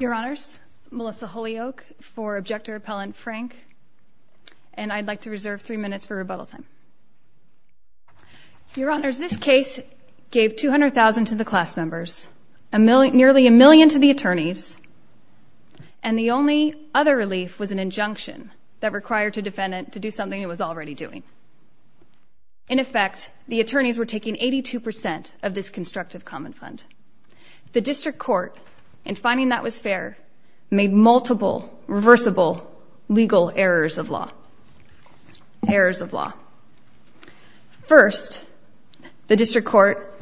Your Honors, Melissa Holyoake for Objector-Appellant Frank, and I'd like to reserve three minutes for rebuttal time. Your Honors, this case gave $200,000 to the class members, nearly a million to the attorneys, and the only other relief was an injunction that required a defendant to do something it was already doing. In effect, the attorneys were taking 82% of this constructive common fund. The District Court, in finding that was fair, made multiple reversible legal errors of law. Errors of law. First, the District Court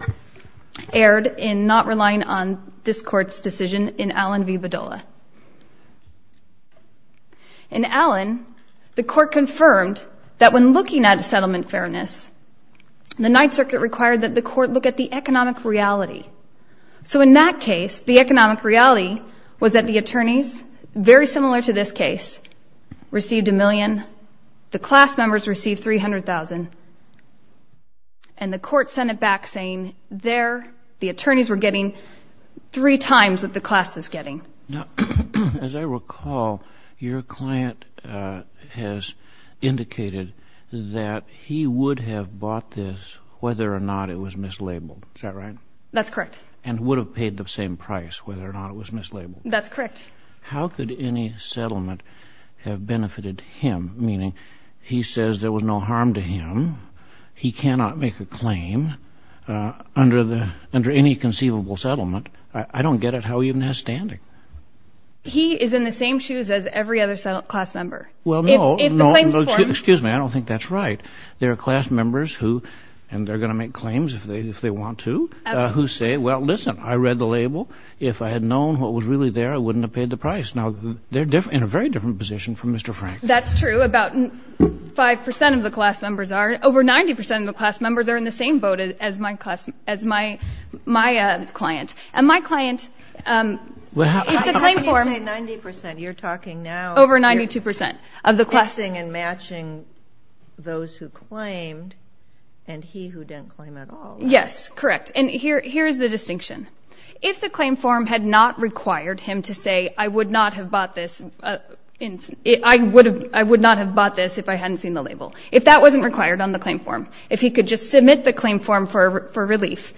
erred in not relying on this Court's decision in Allen v. Bedolla. In Allen, the Court confirmed that when looking at settlement fairness, the Ninth Circuit required that the Court look at the economic reality. So in that case, the economic reality was that the attorneys, very similar to this case, received a million, the class members received $300,000, and the Court sent it back saying there, the attorneys were getting three times what the class was getting. Now, as I recall, your client has indicated that he would have bought this whether or not it was mislabeled. Is that right? That's correct. And would have paid the same price whether or not it was mislabeled. That's correct. How could any settlement have benefited him, meaning he says there was no harm to him, he cannot make a claim under any conceivable settlement? I don't get it. How even has standing? He is in the same shoes as every other class member. Well, no. Excuse me. I don't think that's right. There are class members who, and they're going to make claims if they want to, who say, well, listen, I read the label. If I had known what was really there, I wouldn't have paid the price. Now they're in a very different position from Mr. Frank. That's true. I know about 5% of the class members are, over 90% of the class members are in the same boat as my client. And my client, if the claim form. How can you say 90%? You're talking now. Over 92% of the class. Fixing and matching those who claimed and he who didn't claim at all. Yes, correct. And here's the distinction. If the claim form had not required him to say, I would not have bought this, I would not have bought this if I hadn't seen the label. If that wasn't required on the claim form. If he could just submit the claim form for relief,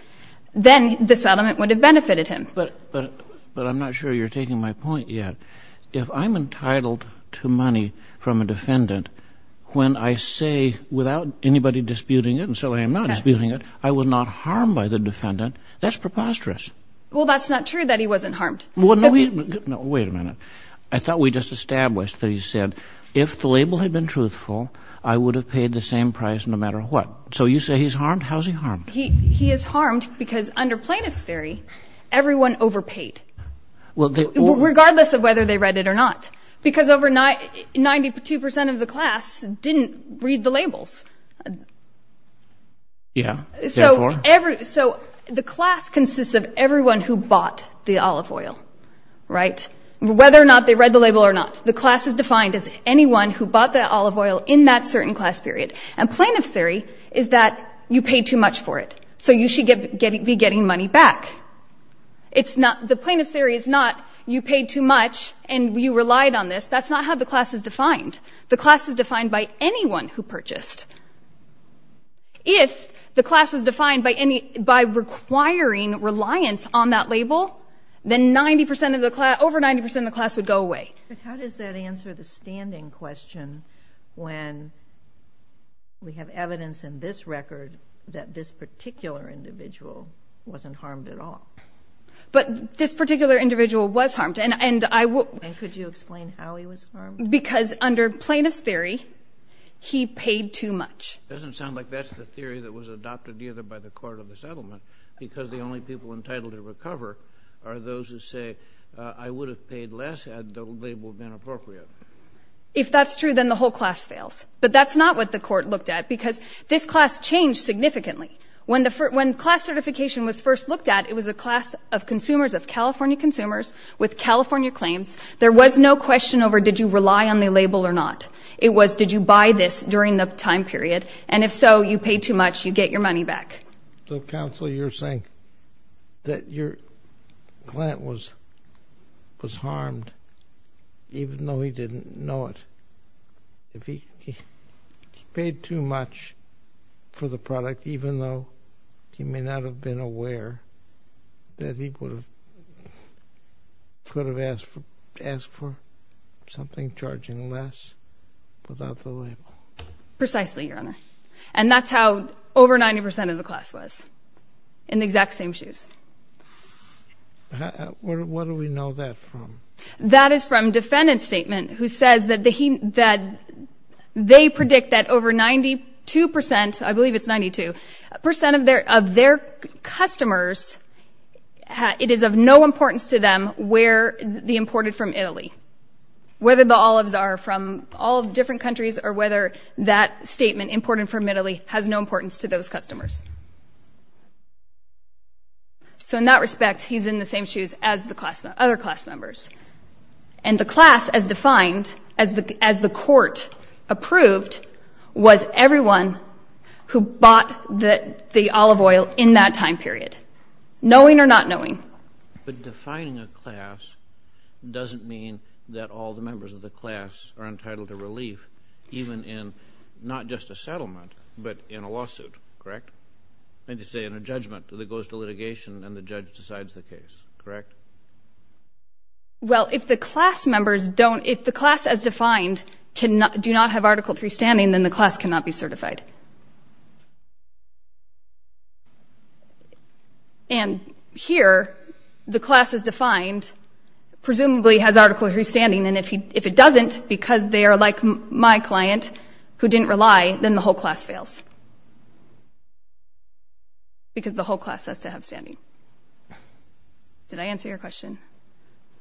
then the settlement would have benefited him. But, but, but I'm not sure you're taking my point yet. If I'm entitled to money from a defendant, when I say without anybody disputing it, and so I am not disputing it, I was not harmed by the defendant. That's preposterous. Well, that's not true that he wasn't harmed. Well, no. Wait a minute. Wait a minute. I thought we just established that he said, if the label had been truthful, I would have paid the same price no matter what. So you say he's harmed. How's he harmed? He, he is harmed because under plaintiff's theory, everyone overpaid regardless of whether they read it or not. Because overnight, 92% of the class didn't read the labels. Yeah. So every, so the class consists of everyone who bought the olive oil. Right? Whether or not they read the label or not. The class is defined as anyone who bought the olive oil in that certain class period. And plaintiff's theory is that you paid too much for it. So you should get, be getting money back. It's not, the plaintiff's theory is not you paid too much and you relied on this. That's not how the class is defined. The class is defined by anyone who purchased. If the class was defined by any, by requiring reliance on that label, then 90% of the class, over 90% of the class would go away. But how does that answer the standing question when we have evidence in this record that this particular individual wasn't harmed at all? But this particular individual was harmed. And, and I will. And could you explain how he was harmed? Because under plaintiff's theory, he paid too much. Doesn't sound like that's the theory that was adopted either by the court or the settlement. Because the only people entitled to recover are those who say, I would have paid less had the label been appropriate. If that's true, then the whole class fails. But that's not what the court looked at because this class changed significantly. When the first, when class certification was first looked at, it was a class of consumers of California consumers with California claims. There was no question over, did you rely on the label or not? It was, did you buy this during the time period? And if so, you pay too much, you get your money back. So counsel, you're saying that your client was, was harmed even though he didn't know it. If he paid too much for the product, even though he may not have been aware that he could have, could have asked for something charging less without the label. Precisely, Your Honor. And that's how over 90% of the class was, in the exact same shoes. What do we know that from? That is from defendant's statement who says that he, that they predict that over 92%, I believe it's 92%, of their, of their customers, it is of no importance to them where the imported from Italy, whether the olives are from all different countries or whether that statement imported from Italy has no importance to those customers. So in that respect, he's in the same shoes as the class, other class members. And the class, as defined, as the, as the court approved, was everyone who bought the, the olive oil in that time period, knowing or not knowing. But defining a class doesn't mean that all the members of the class are entitled to relief, even in not just a settlement, but in a lawsuit, correct? And to say in a judgment that it goes to litigation and the judge decides the case, correct? Well, if the class members don't, if the class as defined cannot, do not have Article III standing, then the class cannot be certified. And here, the class as defined presumably has Article III standing. And if he, if it doesn't, because they are like my client, who didn't rely, then the whole class fails. Because the whole class has to have standing. Did I answer your question?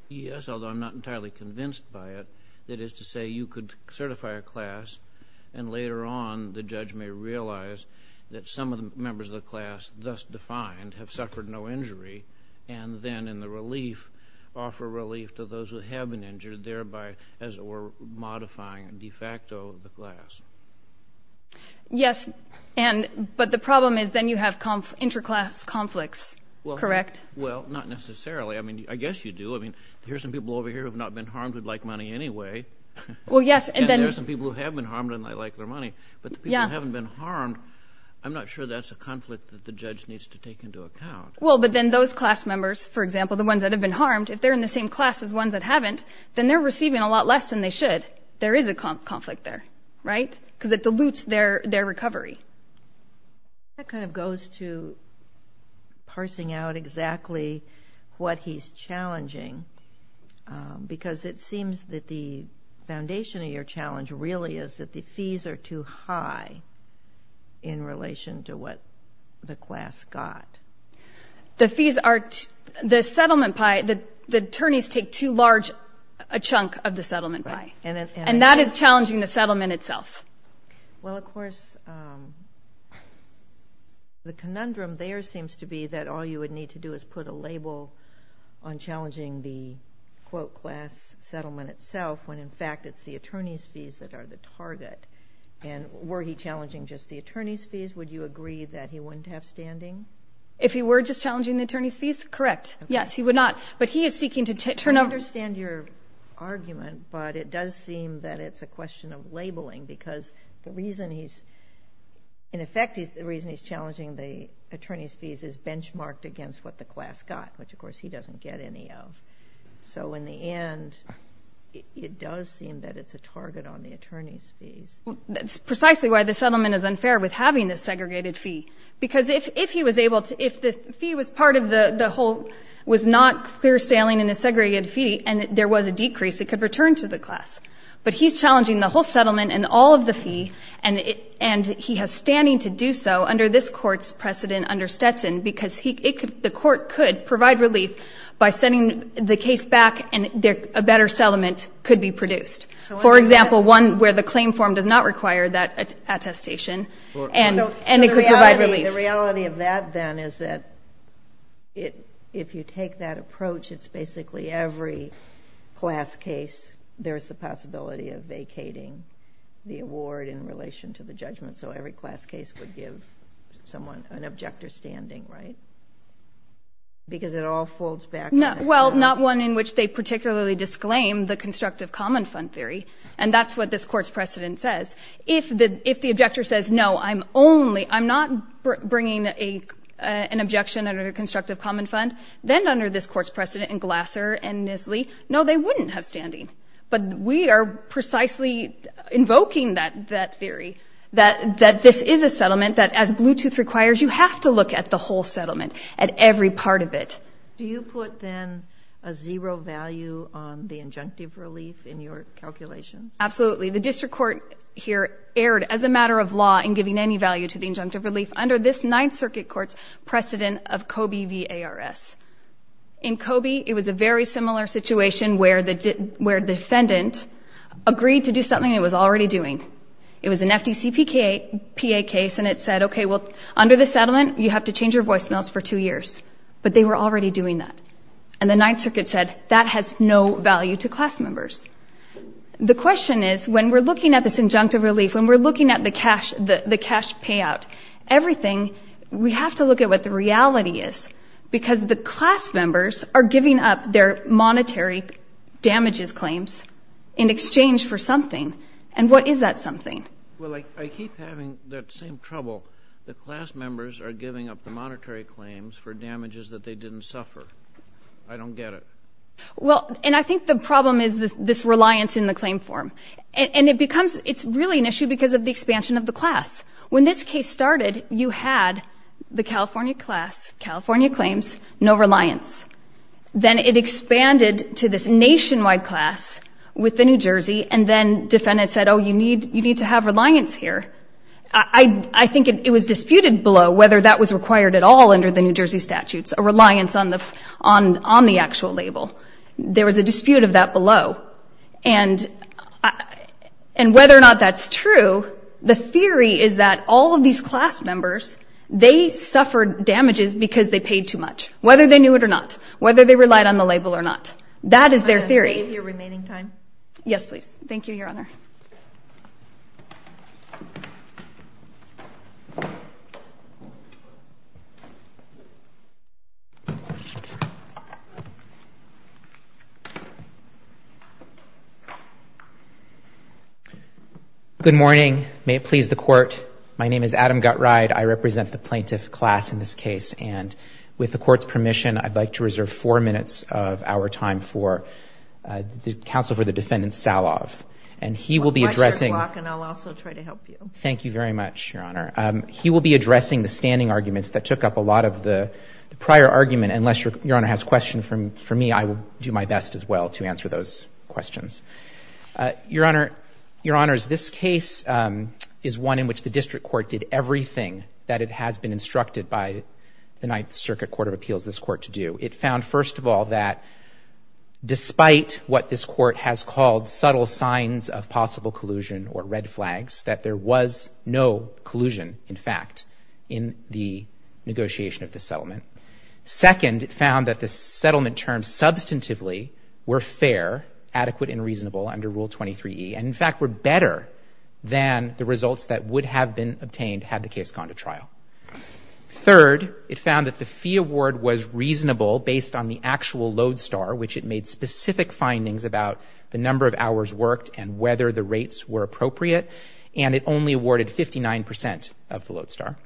Yes, although I'm not entirely convinced by it. That is to say, you could certify a class, and later on, the judge may realize that some of the members of the class, thus defined, have suffered no injury. And then in the relief, offer relief to those who have been injured, Yes, and, but the problem is, then you have inter-class conflicts, correct? Well, not necessarily. I mean, I guess you do. I mean, here's some people over here who have not been harmed, who'd like money anyway. Well, yes, and then... And there's some people who have been harmed and they like their money. But the people who haven't been harmed, I'm not sure that's a conflict that the judge needs to take into account. Well, but then those class members, for example, the ones that have been harmed, if they're in the same class as ones that haven't, then they're receiving a lot less than they should. There is a conflict there, right? Because it dilutes their recovery. That kind of goes to parsing out exactly what he's challenging. Because it seems that the foundation of your challenge really is that the fees are too high in relation to what the class got. The fees are... The settlement pie, the attorneys take too large a chunk of the settlement pie. And that is challenging the settlement itself. Well, of course, the conundrum there seems to be that all you would need to do is put a label on challenging the quote, class settlement itself, when in fact it's the attorney's fees that are the target. And were he challenging just the attorney's fees? Would you agree that he wouldn't have standing? If he were just challenging the attorney's fees? Correct. Yes, he would not. But he is seeking to turn over... But it does seem that it's a question of labeling because the reason he's... In effect, the reason he's challenging the attorney's fees is benchmarked against what the class got, which, of course, he doesn't get any of. So in the end, it does seem that it's a target on the attorney's fees. That's precisely why the settlement is unfair with having this segregated fee. Because if he was able to... If the fee was part of the whole... Was not clear sailing in a segregated fee and there was a decrease, it could return to the class. But he's challenging the whole settlement and all of the fee. And he has standing to do so under this court's precedent under Stetson because the court could provide relief by sending the case back and a better settlement could be produced. For example, one where the claim form does not require that attestation. And it could provide relief. The reality of that then is that if you take that approach, it's basically every class case, there's the possibility of vacating the award in relation to the judgment. So every class case would give someone an objector standing, right? Because it all folds back. No, well, not one in which they particularly disclaim the constructive common fund theory. And that's what this court's precedent says. If the if the objector says, no, I'm only I'm not bringing an objection under the constructive common fund, then under this court's precedent and Glasser and Nisly, no, they wouldn't have standing. But we are precisely invoking that that theory that that this is a settlement that as Bluetooth requires, you have to look at the whole settlement at every part of it. Do you put then a zero value on the injunctive relief in your calculations? Absolutely. The district court here erred as a matter of law in giving any value to the injunctive relief under this Ninth Circuit court's precedent of Kobe V.A.R.S. In Kobe, it was a very similar situation where the where defendant agreed to do something it was already doing. It was an FTCPK case, and it said, OK, well, under the settlement, you have to change your voicemails for two years. But they were already doing that. And the Ninth Circuit said that has no value to class members. The question is, when we're looking at this injunctive relief, when we're looking at the cash, the cash payout, everything, we have to look at what the reality is, because the class members are giving up their monetary damages claims in exchange for something. And what is that something? Well, I keep having that same trouble. The class members are giving up the monetary claims for damages that they didn't suffer. I don't get it. Well, and I think the problem is this reliance in the claim form. And it becomes it's really an issue because of the expansion of the class. When this case started, you had the California class, California claims, no reliance. Then it expanded to this nationwide class with the New Jersey. And then defendants said, oh, you need you need to have reliance here. I think it was disputed below whether that was required at all under the New Jersey statutes, a reliance on the on on the actual label. There was a dispute of that below. And I and whether or not that's true. The theory is that all of these class members, they suffered damages because they paid too much, whether they knew it or not, whether they relied on the label or not. That is their theory of your remaining time. Yes, please. Thank you, Your Honor. Good morning. May it please the court. My name is Adam Gutride. I represent the plaintiff class in this case. And with the court's permission, I'd like to reserve four minutes of our time for the counsel for the defendant, Salove. And he will be addressing. And I'll also try to help you. Thank you very much, Your Honor. He will be addressing the standing arguments that took up a lot of the prior argument. Unless your honor has a question for me, I will do my best as well to answer those questions. Your Honor, Your Honor, is this case is one in which the district court did everything that it has been instructed by the Ninth Circuit Court of Appeals, this court to do. It found, first of all, that despite what this court has called subtle signs of possible collusion or red flags, that there was no collusion, in fact, in the negotiation of the settlement. Second, it found that the settlement terms substantively were fair at a time adequate and reasonable under Rule 23E and, in fact, were better than the results that would have been obtained had the case gone to trial. Third, it found that the fee award was reasonable based on the actual load star, which it made specific findings about the number of hours worked and whether the rates were appropriate. And it only awarded 59 percent of the load star.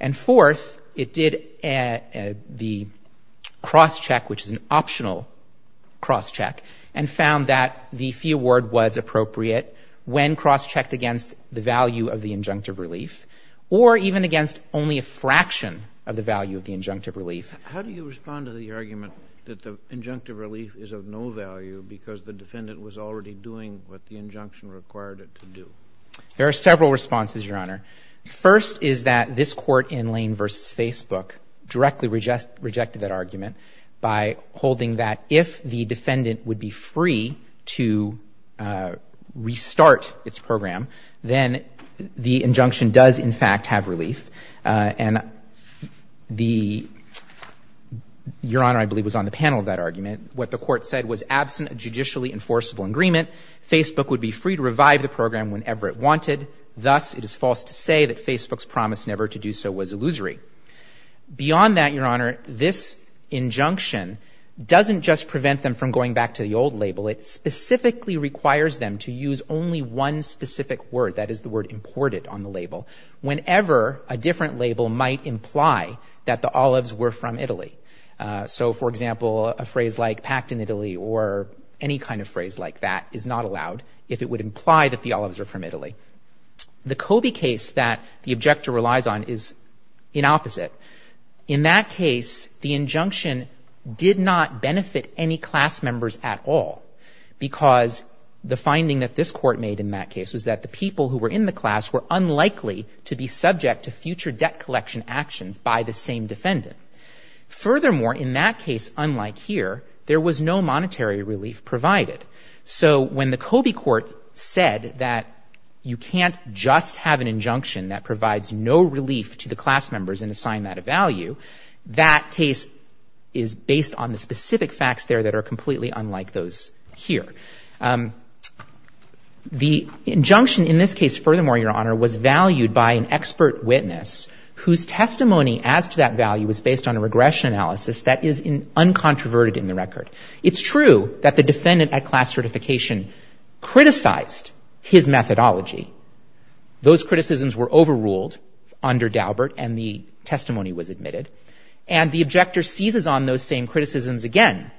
And fourth, it did the cross check, which is an optional cross check, and found that the fee award was appropriate when cross-checked against the value of the injunctive relief or even against only a fraction of the value of the injunctive relief. How do you respond to the argument that the injunctive relief is of no value because the defendant was already doing what the injunction required it to do? There are several responses, Your Honor. First is that this court in Lane v. Facebook directly rejected that argument by holding that if the defendant would be free to restart its program, then the injunction does, in fact, have relief. And the, Your Honor, I believe was on the panel of that argument. What the court said was, absent a judicially enforceable agreement, Facebook would be free to revive the program whenever it wanted. Thus, it is false to say that Facebook's promise never to do so was illusory. Beyond that, Your Honor, this injunction doesn't just prevent them from going back to the old label. It specifically requires them to use only one specific word, that is the word imported on the label, whenever a different label might imply that the olives were from Italy. So, for example, a phrase like packed in Italy or any kind of phrase like that is not allowed if it would imply that the olives are from Italy. The Kobe case that the objector relies on is in opposite. In that case, the injunction did not benefit any class members at all because the finding that this court made in that case was that the people who were in the class were unlikely to be subject to future debt collection actions by the same defendant. Furthermore, in that case, unlike here, there was no monetary relief provided. So when the Kobe court said that you can't just have an injunction that provides no monetary relief and that a value, that case is based on the specific facts there that are completely unlike those here. The injunction in this case, furthermore, Your Honor, was valued by an expert witness whose testimony as to that value was based on a regression analysis that is uncontroverted in the record. It's true that the defendant at class certification criticized his methodology. Those criticisms were overruled under Daubert and the testimony was admitted and the objector seizes on those same criticisms again.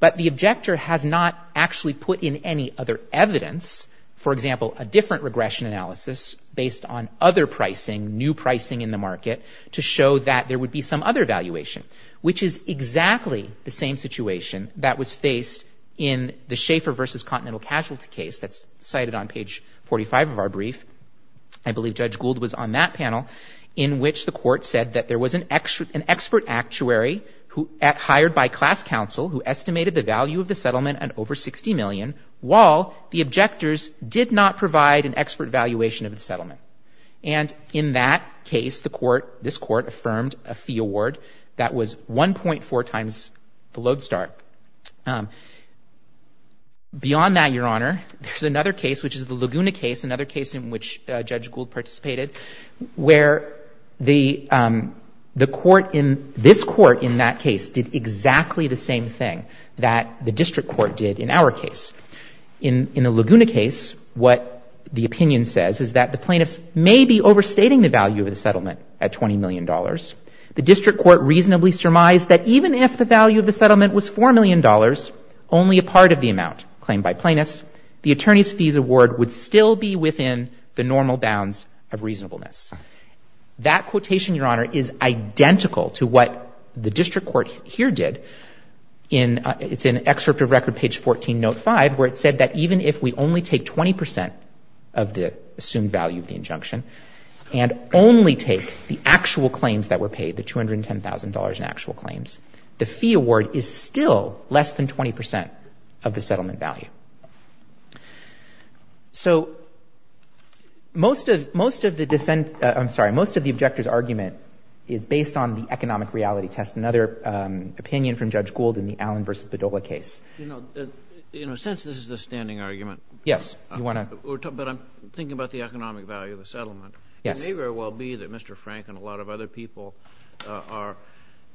But the objector has not actually put in any other evidence, for example, a different regression analysis based on other pricing, new pricing in the market to show that there would be some other valuation, which is exactly the same situation that was faced in the Schaeffer versus Continental Casualty case that's cited on the brief. I believe Judge Gould was on that panel in which the court said that there was an expert, an expert actuary who hired by class counsel who estimated the value of the settlement and over 60 million while the objectors did not provide an expert valuation of the settlement. And in that case, the court, this court affirmed a fee award that was one point four times the load start. Beyond that, Your Honor, there's another case, which is the Laguna case, another case in which Judge Gould participated, where the court in this court in that case did exactly the same thing that the district court did in our case. In the Laguna case, what the opinion says is that the plaintiffs may be overstating the value of the settlement at $20 million. The district court reasonably surmised that even if the settlement was $4 million, only a part of the amount claimed by plaintiffs, the attorney's fees award would still be within the normal bounds of reasonableness. That quotation, Your Honor, is identical to what the district court here did in it's an excerpt of record page 14, note five, where it said that even if we only take 20 percent of the assumed value of the injunction and only take the actual claims that were paid, the $210,000 in actual claims, the fee award is still less than 20 percent of the settlement value. So most of most of the defense, I'm sorry, most of the objector's argument is based on the economic reality test. Another opinion from Judge Gould in the Allen v. Bedolla case. You know, you know, since this is a standing argument. Yes. You want to. But I'm thinking about the economic value of a settlement. Yes. The behavior will be that Mr. Frank and a lot of other people are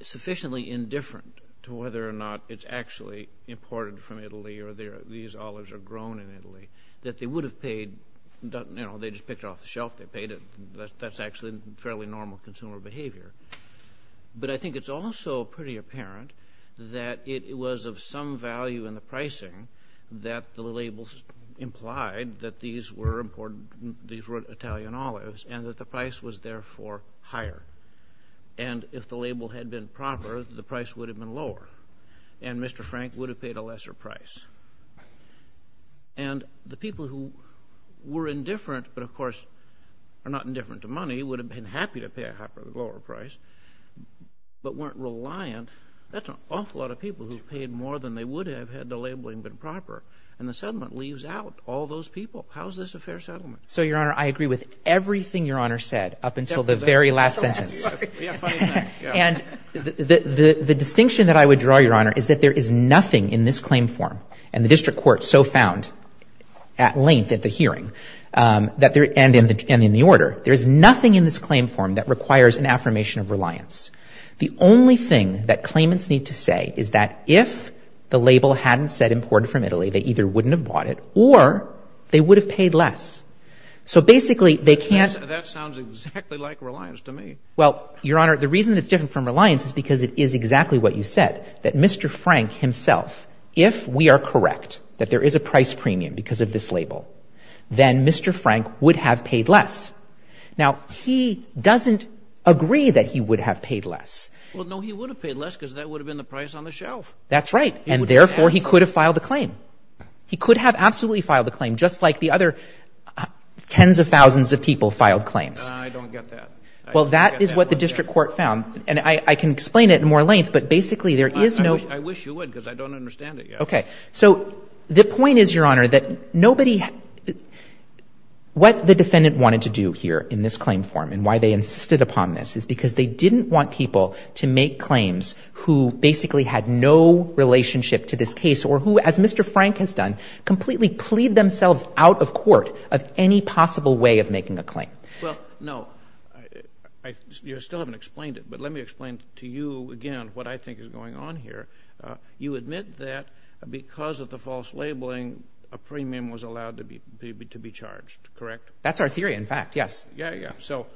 sufficiently indifferent to whether or not it's actually imported from Italy or these olives are grown in Italy, that they would have paid, you know, they just picked it off the shelf. They paid it. That's actually fairly normal consumer behavior. But I think it's also pretty apparent that it was of some value in the pricing that the price was therefore higher. And if the label had been proper, the price would have been lower and Mr. Frank would have paid a lesser price. And the people who were indifferent, but of course are not indifferent to money, would have been happy to pay a lower price, but weren't reliant. That's an awful lot of people who paid more than they would have had the labeling been proper. And the settlement leaves out all those people. How is this a fair settlement? So, Your Honor, I agree with everything Your Honor said up until the very last sentence. And the distinction that I would draw, Your Honor, is that there is nothing in this claim form and the district court so found at length at the hearing and in the order, there is nothing in this claim form that requires an affirmation of reliance. The only thing that claimants need to say is that if the label hadn't said imported from Italy, they either wouldn't have bought it or they would have paid less. So basically they can't. That sounds exactly like reliance to me. Well, Your Honor, the reason that's different from reliance is because it is exactly what you said, that Mr. Frank himself, if we are correct, that there is a price premium because of this label, then Mr. Frank would have paid less. Now, he doesn't agree that he would have paid less. Well, no, he would have paid less because that would have been the price on the shelf. That's right. And therefore, he could have filed a claim. He could have absolutely filed a claim, just like the other tens of thousands of people filed claims. I don't get that. Well, that is what the district court found. And I can explain it in more length, but basically there is no. I wish you would, because I don't understand it yet. Okay. So the point is, Your Honor, that nobody, what the defendant wanted to do here in this claim form and why they insisted upon this is because they didn't want people to make claims who basically had no relationship to this case or who, as Mr. Frank has done, completely plead themselves out of court of any possible way of making a claim. Well, no, you still haven't explained it, but let me explain to you again what I think is going on here. You admit that because of the false labeling, a premium was allowed to be charged, correct? That's our theory. In fact, yes. Yeah, yeah. So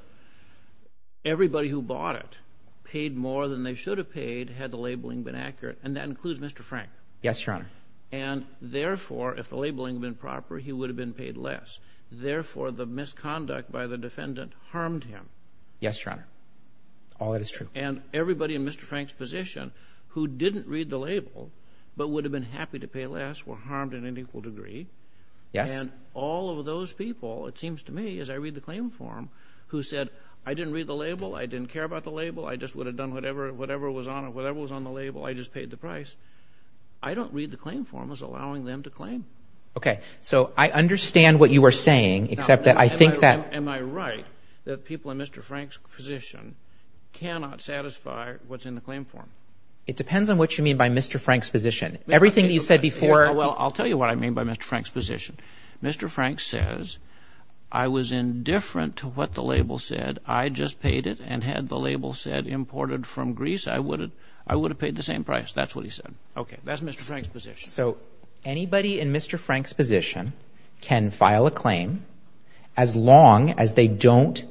everybody who bought it paid more than they should have paid had the labeling been accurate. And that includes Mr. Frank. Yes, Your Honor. And therefore, if the labeling had been proper, he would have been paid less. Therefore, the misconduct by the defendant harmed him. Yes, Your Honor. All that is true. And everybody in Mr. Frank's position who didn't read the label, but would have been happy to pay less, were harmed in an equal degree. Yes. And all of those people, it seems to me, as I read the claim form, who said, I didn't read the label, I didn't care about the label, I just would have done whatever, whatever was on it, whatever was on the label, I just paid the price. I don't read the claim form as allowing them to claim. Okay. So I understand what you were saying, except that I think that... Am I right that people in Mr. Frank's position cannot satisfy what's in the claim form? It depends on what you mean by Mr. Frank's position. Everything that you said before... Well, I'll tell you what I mean by Mr. Frank's position. Mr. Frank says, I was indifferent to what the label said. I just paid it and had the label said imported from Greece, I would have paid the same price. That's what he said. Okay. That's Mr. Frank's position. So anybody in Mr. Frank's position can file a claim as long as they don't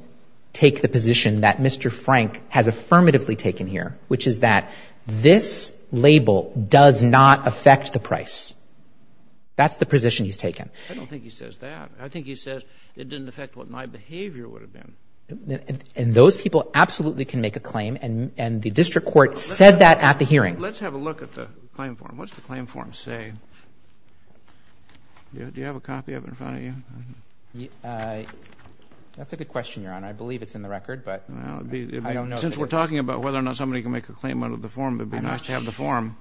take the position that Mr. Frank has affirmatively taken here, which is that this label does not affect the price. That's the position he's taken. I don't think he says that. I think he says it didn't affect what my behavior would have been. And those people absolutely can make a claim. And the district court said that at the hearing. Let's have a look at the claim form. What's the claim form say? Do you have a copy of it in front of you? That's a good question, Your Honor. I believe it's in the record, but I don't know. Since we're talking about whether or not somebody can make a claim out of the form, it'd be nice to have the form.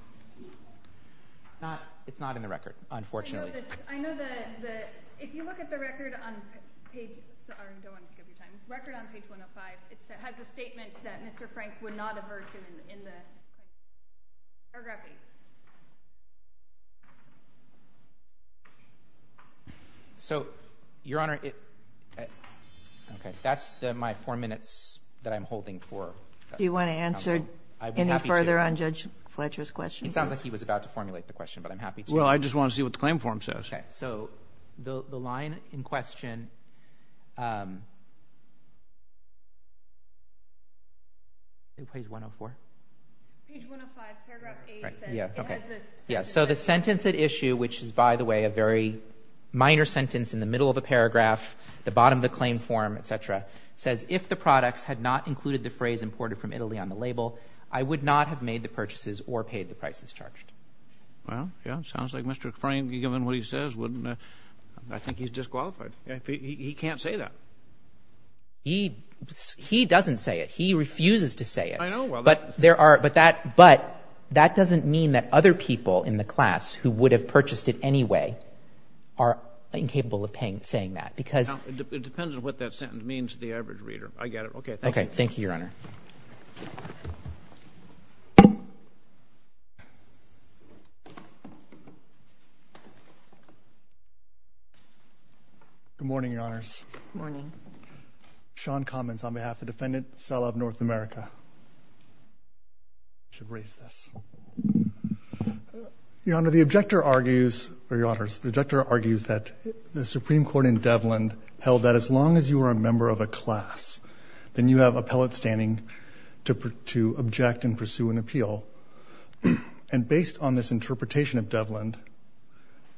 It's not in the record, unfortunately. I know that if you look at the record on page one of five, it has a statement that Mr. Frank would not aversion in the paragraph eight. So, Your Honor, that's my four minutes that I'm holding for. Do you want to answer any further on Judge Fletcher's question? It sounds like he was about to formulate the question, but I'm happy to. Well, I just want to see what the claim form says. Okay. So the line in question, in page 104? Page 105, paragraph eight says it has this. Yeah. So the sentence at issue, which is, by the way, a very minor sentence in the middle of the paragraph, the bottom of the claim form, et cetera, says, if the products had not included the phrase imported from Italy on the label, I would not have made the purchases or paid the prices charged. Well, yeah, it sounds like Mr. Frank, given what he says, wouldn't, I think he's disqualified. He can't say that. He, he doesn't say it. He refuses to say it. I know. Well, but there are, but that, but that doesn't mean that other people in the class who would have purchased it anyway are incapable of paying, saying that because it depends on what that sentence means to the average reader. I get it. Okay. Okay. Thank you, Your Honor. Good morning, Your Honors. Good morning. Sean comments on behalf of the defendant, Sela of North America. I should raise this. Your Honor, the objector argues, or Your Honors, the objector argues that the Supreme Court in Devlin held that as long as you are a member of a class, then you have appellate standing to, to object and pursue an appeal. On this interpretation of Devlin,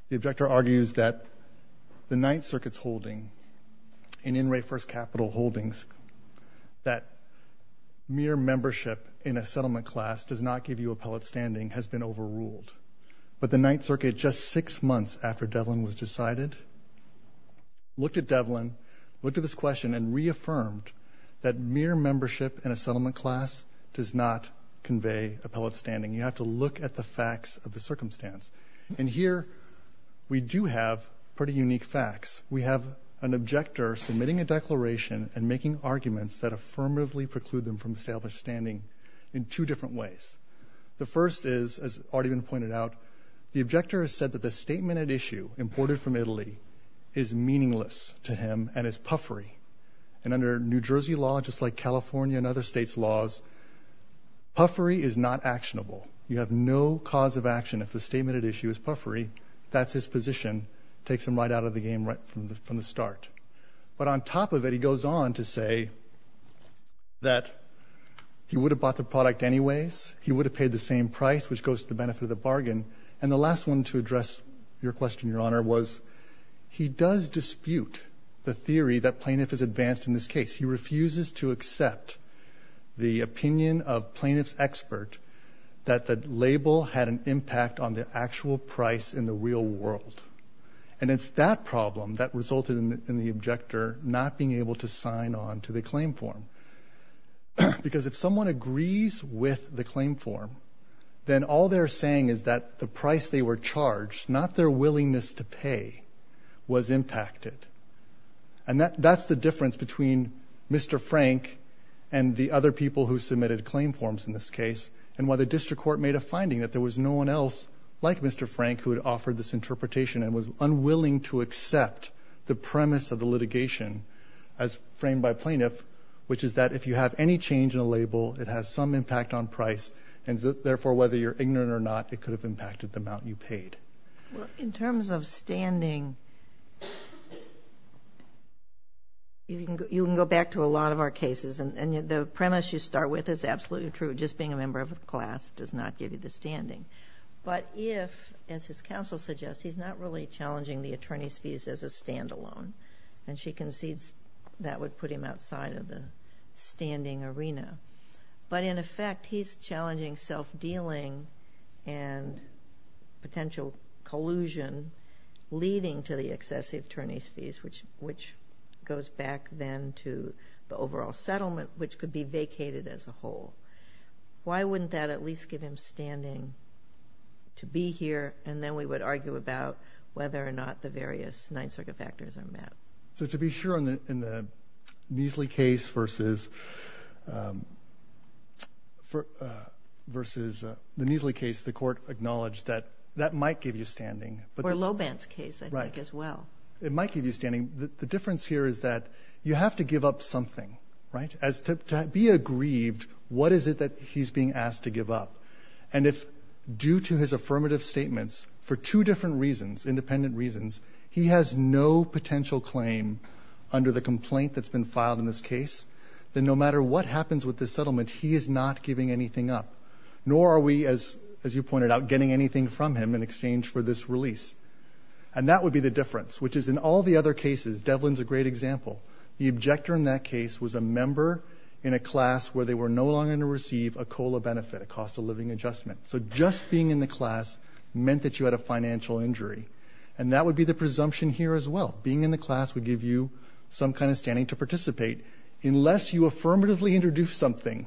the objector argues that the Ninth Circuit's holding in NRA First Capital Holdings, that mere membership in a settlement class does not give you appellate standing has been overruled. But the Ninth Circuit, just six months after Devlin was decided, looked at Devlin, looked at this question and reaffirmed that mere membership in a settlement class does not convey appellate standing. You have to look at the facts of the circumstance. And here we do have pretty unique facts. We have an objector submitting a declaration and making arguments that affirmatively preclude them from established standing in two different ways. The first is, as already been pointed out, the objector has said that the statement at issue, imported from Italy, is meaningless to him and is puffery. Puffery is not actionable. You have no cause of action. If the statement at issue is puffery, that's his position, takes him right out of the game right from the, from the start. But on top of it, he goes on to say that he would have bought the product anyways. He would have paid the same price, which goes to the benefit of the bargain. And the last one to address your question, Your Honor, was he does dispute the theory that plaintiff is advanced in this case. He refuses to accept the opinion of plaintiff's expert that the label had an impact on the actual price in the real world. And it's that problem that resulted in the objector not being able to sign on to the claim form. Because if someone agrees with the claim form, then all they're saying is that the price they were charged, not their willingness to pay, was impacted. And that, that's the difference between Mr. Frank and the other people who submitted claim forms in this case and why the district court made a finding that there was no one else like Mr. Frank who had offered this interpretation and was unwilling to accept the premise of the litigation as framed by plaintiff, which is that if you have any change in a label, it has some impact on price. And therefore, whether you're ignorant or not, it could have impacted the amount you paid. In terms of standing, you can go back to a lot of our cases and the premise you start with is absolutely true, just being a member of a class does not give you the standing. But if, as his counsel suggests, he's not really challenging the attorney's fees as a standalone, and she concedes that would put him outside of the standing arena, but in effect he's challenging self-dealing and potential collusion leading to the excessive attorney's fees, which, which goes back then to the overall settlement, which could be vacated as a whole. Why wouldn't that at least give him standing to be here? And then we would argue about whether or not the various Ninth Circuit factors are met. So to be sure in the, in the Neasley case versus versus the Neasley case, the Neasley case might give you standing, or Loebant's case, I think as well. It might give you standing. The difference here is that you have to give up something, right? As to be aggrieved, what is it that he's being asked to give up? And if due to his affirmative statements for two different reasons, independent reasons, he has no potential claim under the complaint that's been filed in this case, then no matter what happens with the settlement, he is not giving anything up, nor are we, as, as you pointed out, getting anything from him in exchange for this release, and that would be the difference, which is in all the other cases, Devlin's a great example, the objector in that case was a member in a class where they were no longer going to receive a COLA benefit, a cost of living adjustment. So just being in the class meant that you had a financial injury, and that would be the presumption here as well. Being in the class would give you some kind of standing to participate unless you affirmatively introduce something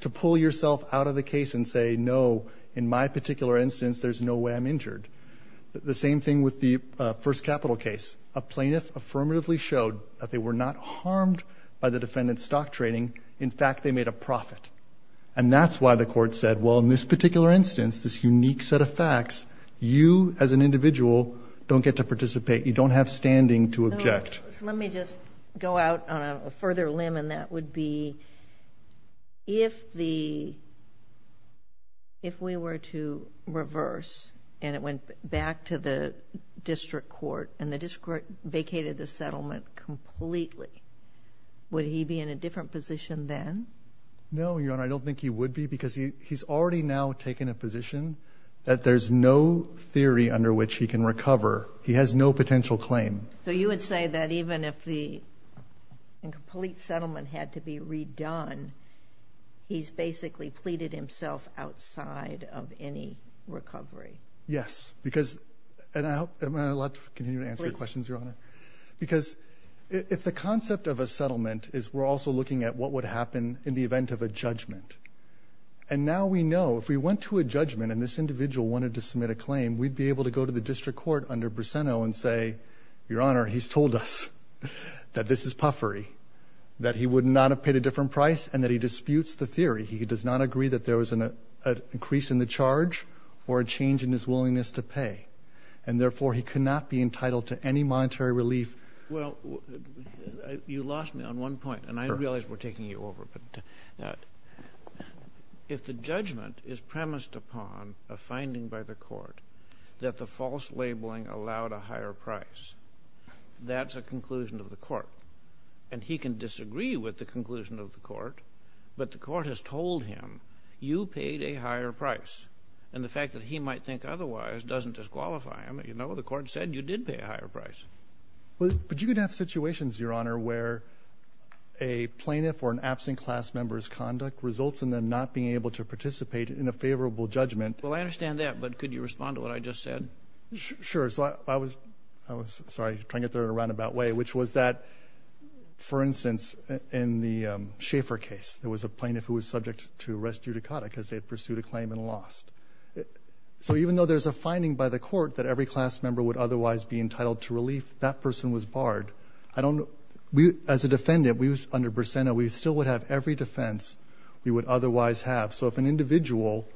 to pull yourself out of the case and say, no, in my particular instance, there's no way I'm injured. The same thing with the, uh, first capital case, a plaintiff affirmatively showed that they were not harmed by the defendant's stock trading. In fact, they made a profit. And that's why the court said, well, in this particular instance, this unique set of facts, you as an individual don't get to participate. You don't have standing to object. Let me just go out on a further limb and that would be if the, if we were to reverse and it went back to the district court and the district court vacated the settlement completely, would he be in a different position then? No, Your Honor, I don't think he would be because he, he's already now taken a position that there's no theory under which he can recover. He has no potential claim. So you would say that even if the incomplete settlement had to be redone, he's basically pleaded himself outside of any recovery? Yes, because, and I hope I'm allowed to continue to answer your questions, Your Honor, because if the concept of a settlement is we're also looking at what would happen in the event of a judgment. And now we know if we went to a judgment and this individual wanted to submit a Your Honor, he's told us that this is puffery, that he would not have paid a different price and that he disputes the theory. He does not agree that there was an increase in the charge or a change in his willingness to pay. And therefore he could not be entitled to any monetary relief. Well, you lost me on one point and I realize we're taking you over, but if the judgment is premised upon a finding by the court that the false labeling allowed a higher price, that's a conclusion of the court and he can disagree with the conclusion of the court, but the court has told him you paid a higher price. And the fact that he might think otherwise doesn't disqualify him. You know, the court said you did pay a higher price. But you could have situations, Your Honor, where a plaintiff or an absent class member's conduct results in them not being able to participate in a favorable judgment. Well, I understand that. But could you respond to what I just said? Sure. So I was, I was, sorry, trying to get there in a roundabout way, which was that for instance, in the Schaefer case, there was a plaintiff who was subject to arrest judicata because they had pursued a claim and lost it. So even though there's a finding by the court that every class member would otherwise be entitled to relief, that person was barred. I don't know. We, as a defendant, we was under Bersena. We still would have every defense we would otherwise have. So if an individual,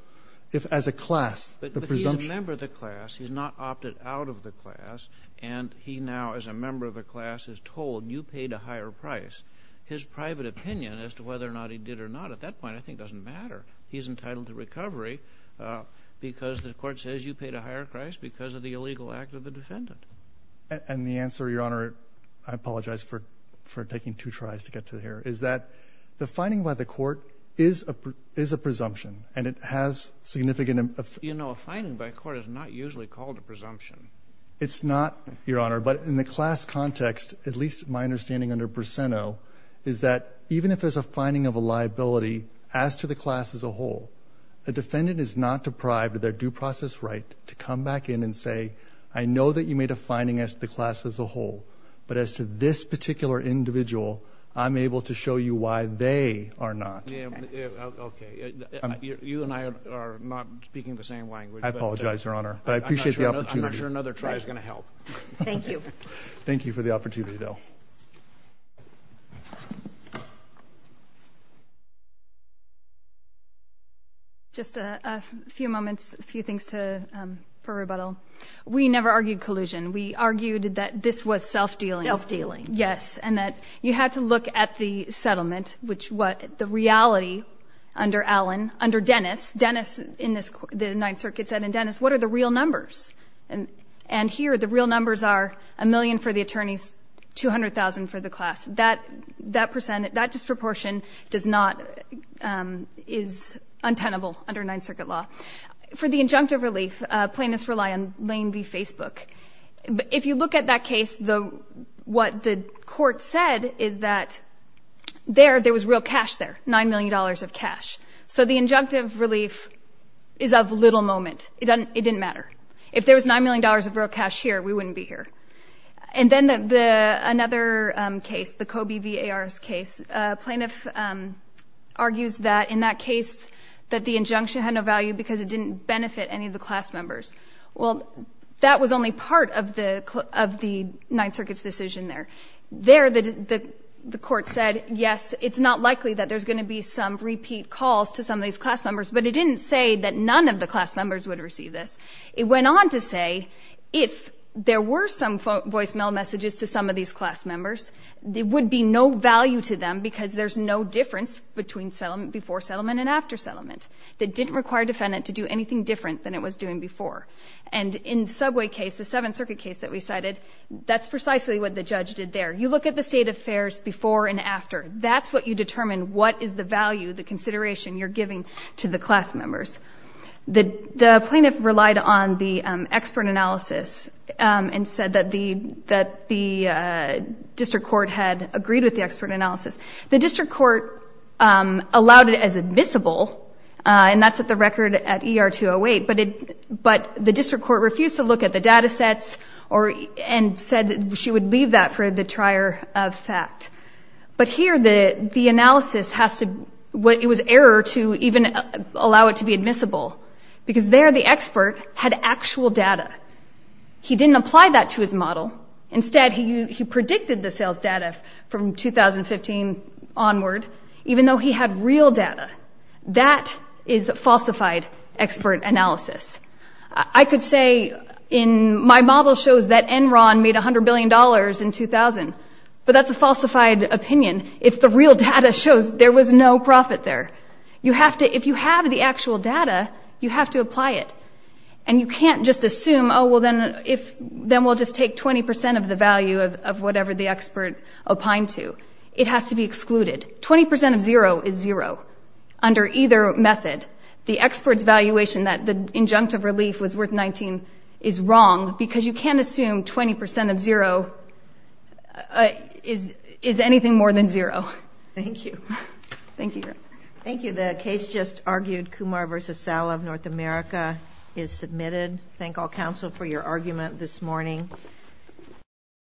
if as a class, the presumption. But he's a member of the class. He's not opted out of the class. And he now, as a member of a class, is told you paid a higher price. His private opinion as to whether or not he did or not at that point, I think doesn't matter. He's entitled to recovery because the court says you paid a higher price because of the illegal act of the defendant. And the answer, Your Honor, I apologize for, for taking two tries to get to here, is that the finding by the court is a presumption and it has significant. You know, a finding by court is not usually called a presumption. It's not, Your Honor, but in the class context, at least my understanding under Berseno is that even if there's a finding of a liability as to the class as a whole, a defendant is not deprived of their due process right to come back in and say, I know that you made a finding as the class as a whole, but as to this particular individual, I'm able to show you why they are not. Okay. You and I are not speaking the same language. I apologize, Your Honor, but I appreciate the opportunity. I'm not sure another try is going to help. Thank you. Thank you for the opportunity though. Just a few moments, a few things to, um, for rebuttal. We never argued collusion. We argued that this was self-dealing. Self-dealing. Yes. And that you had to look at the settlement, which what the reality under Allen, under Dennis, Dennis in this, the Ninth Circuit said, and Dennis, what are the real numbers? And, and here, the real numbers are a million for the attorneys, 200,000 for the class. That, that percent, that disproportion does not, um, is untenable under Ninth Circuit law. For the injunctive relief, uh, plaintiffs rely on Lane v. Facebook. But if you look at that case, the, what the court said is that there, there was real cash there, $9 million of cash. So the injunctive relief is of little moment. It doesn't, it didn't matter. If there was $9 million of real cash here, we wouldn't be here. And then the, the, another case, the Kobe v. A.R.'s case, a plaintiff, um, argues that in that case that the injunction had no value because it didn't benefit any of the class members. Well, that was only part of the, of the Ninth Circuit's decision there. There, the, the, the court said, yes, it's not likely that there's going to be some repeat calls to some of these class members, but it didn't say that none of the class members would receive this. It went on to say, if there were some voicemail messages to some of these class members, there would be no value to them because there's no difference between settlement, before settlement and after settlement that didn't require defendant to do anything different than it was doing before. And in Subway case, the Seventh Circuit case that we cited, that's precisely what the judge did there. You look at the state affairs before and after, that's what you determine. What is the value, the consideration you're giving to the class members? The, the plaintiff relied on the expert analysis, um, and said that the, that the, uh, district court had agreed with the expert analysis. The district court, um, allowed it as admissible, uh, and that's at the record at E.R. 208, but it, but the district court refused to look at the data sets or, and said she would leave that for the trier of fact, but here the, the analysis has to, what it was error to even allow it to be admissible because there the expert had actual data. He didn't apply that to his model. Instead, he, he predicted the sales data from 2015 onward, even though he had real data. That is falsified expert analysis. I could say in my model shows that Enron made a hundred billion dollars in 2000, but that's a falsified opinion. If the real data shows there was no profit there, you have to, if you have the actual data, you have to apply it and you can't just assume, oh, well then if, then we'll just take 20% of the value of, of whatever the expert opined to. It has to be excluded. 20% of zero is zero under either method. The expert's valuation that the injunctive relief was worth 19 is wrong because you can't assume 20% of zero is, is anything more than zero. Thank you. Thank you. Thank you. The case just argued Kumar versus Sal of North America is submitted. Thank all counsel for your argument this morning.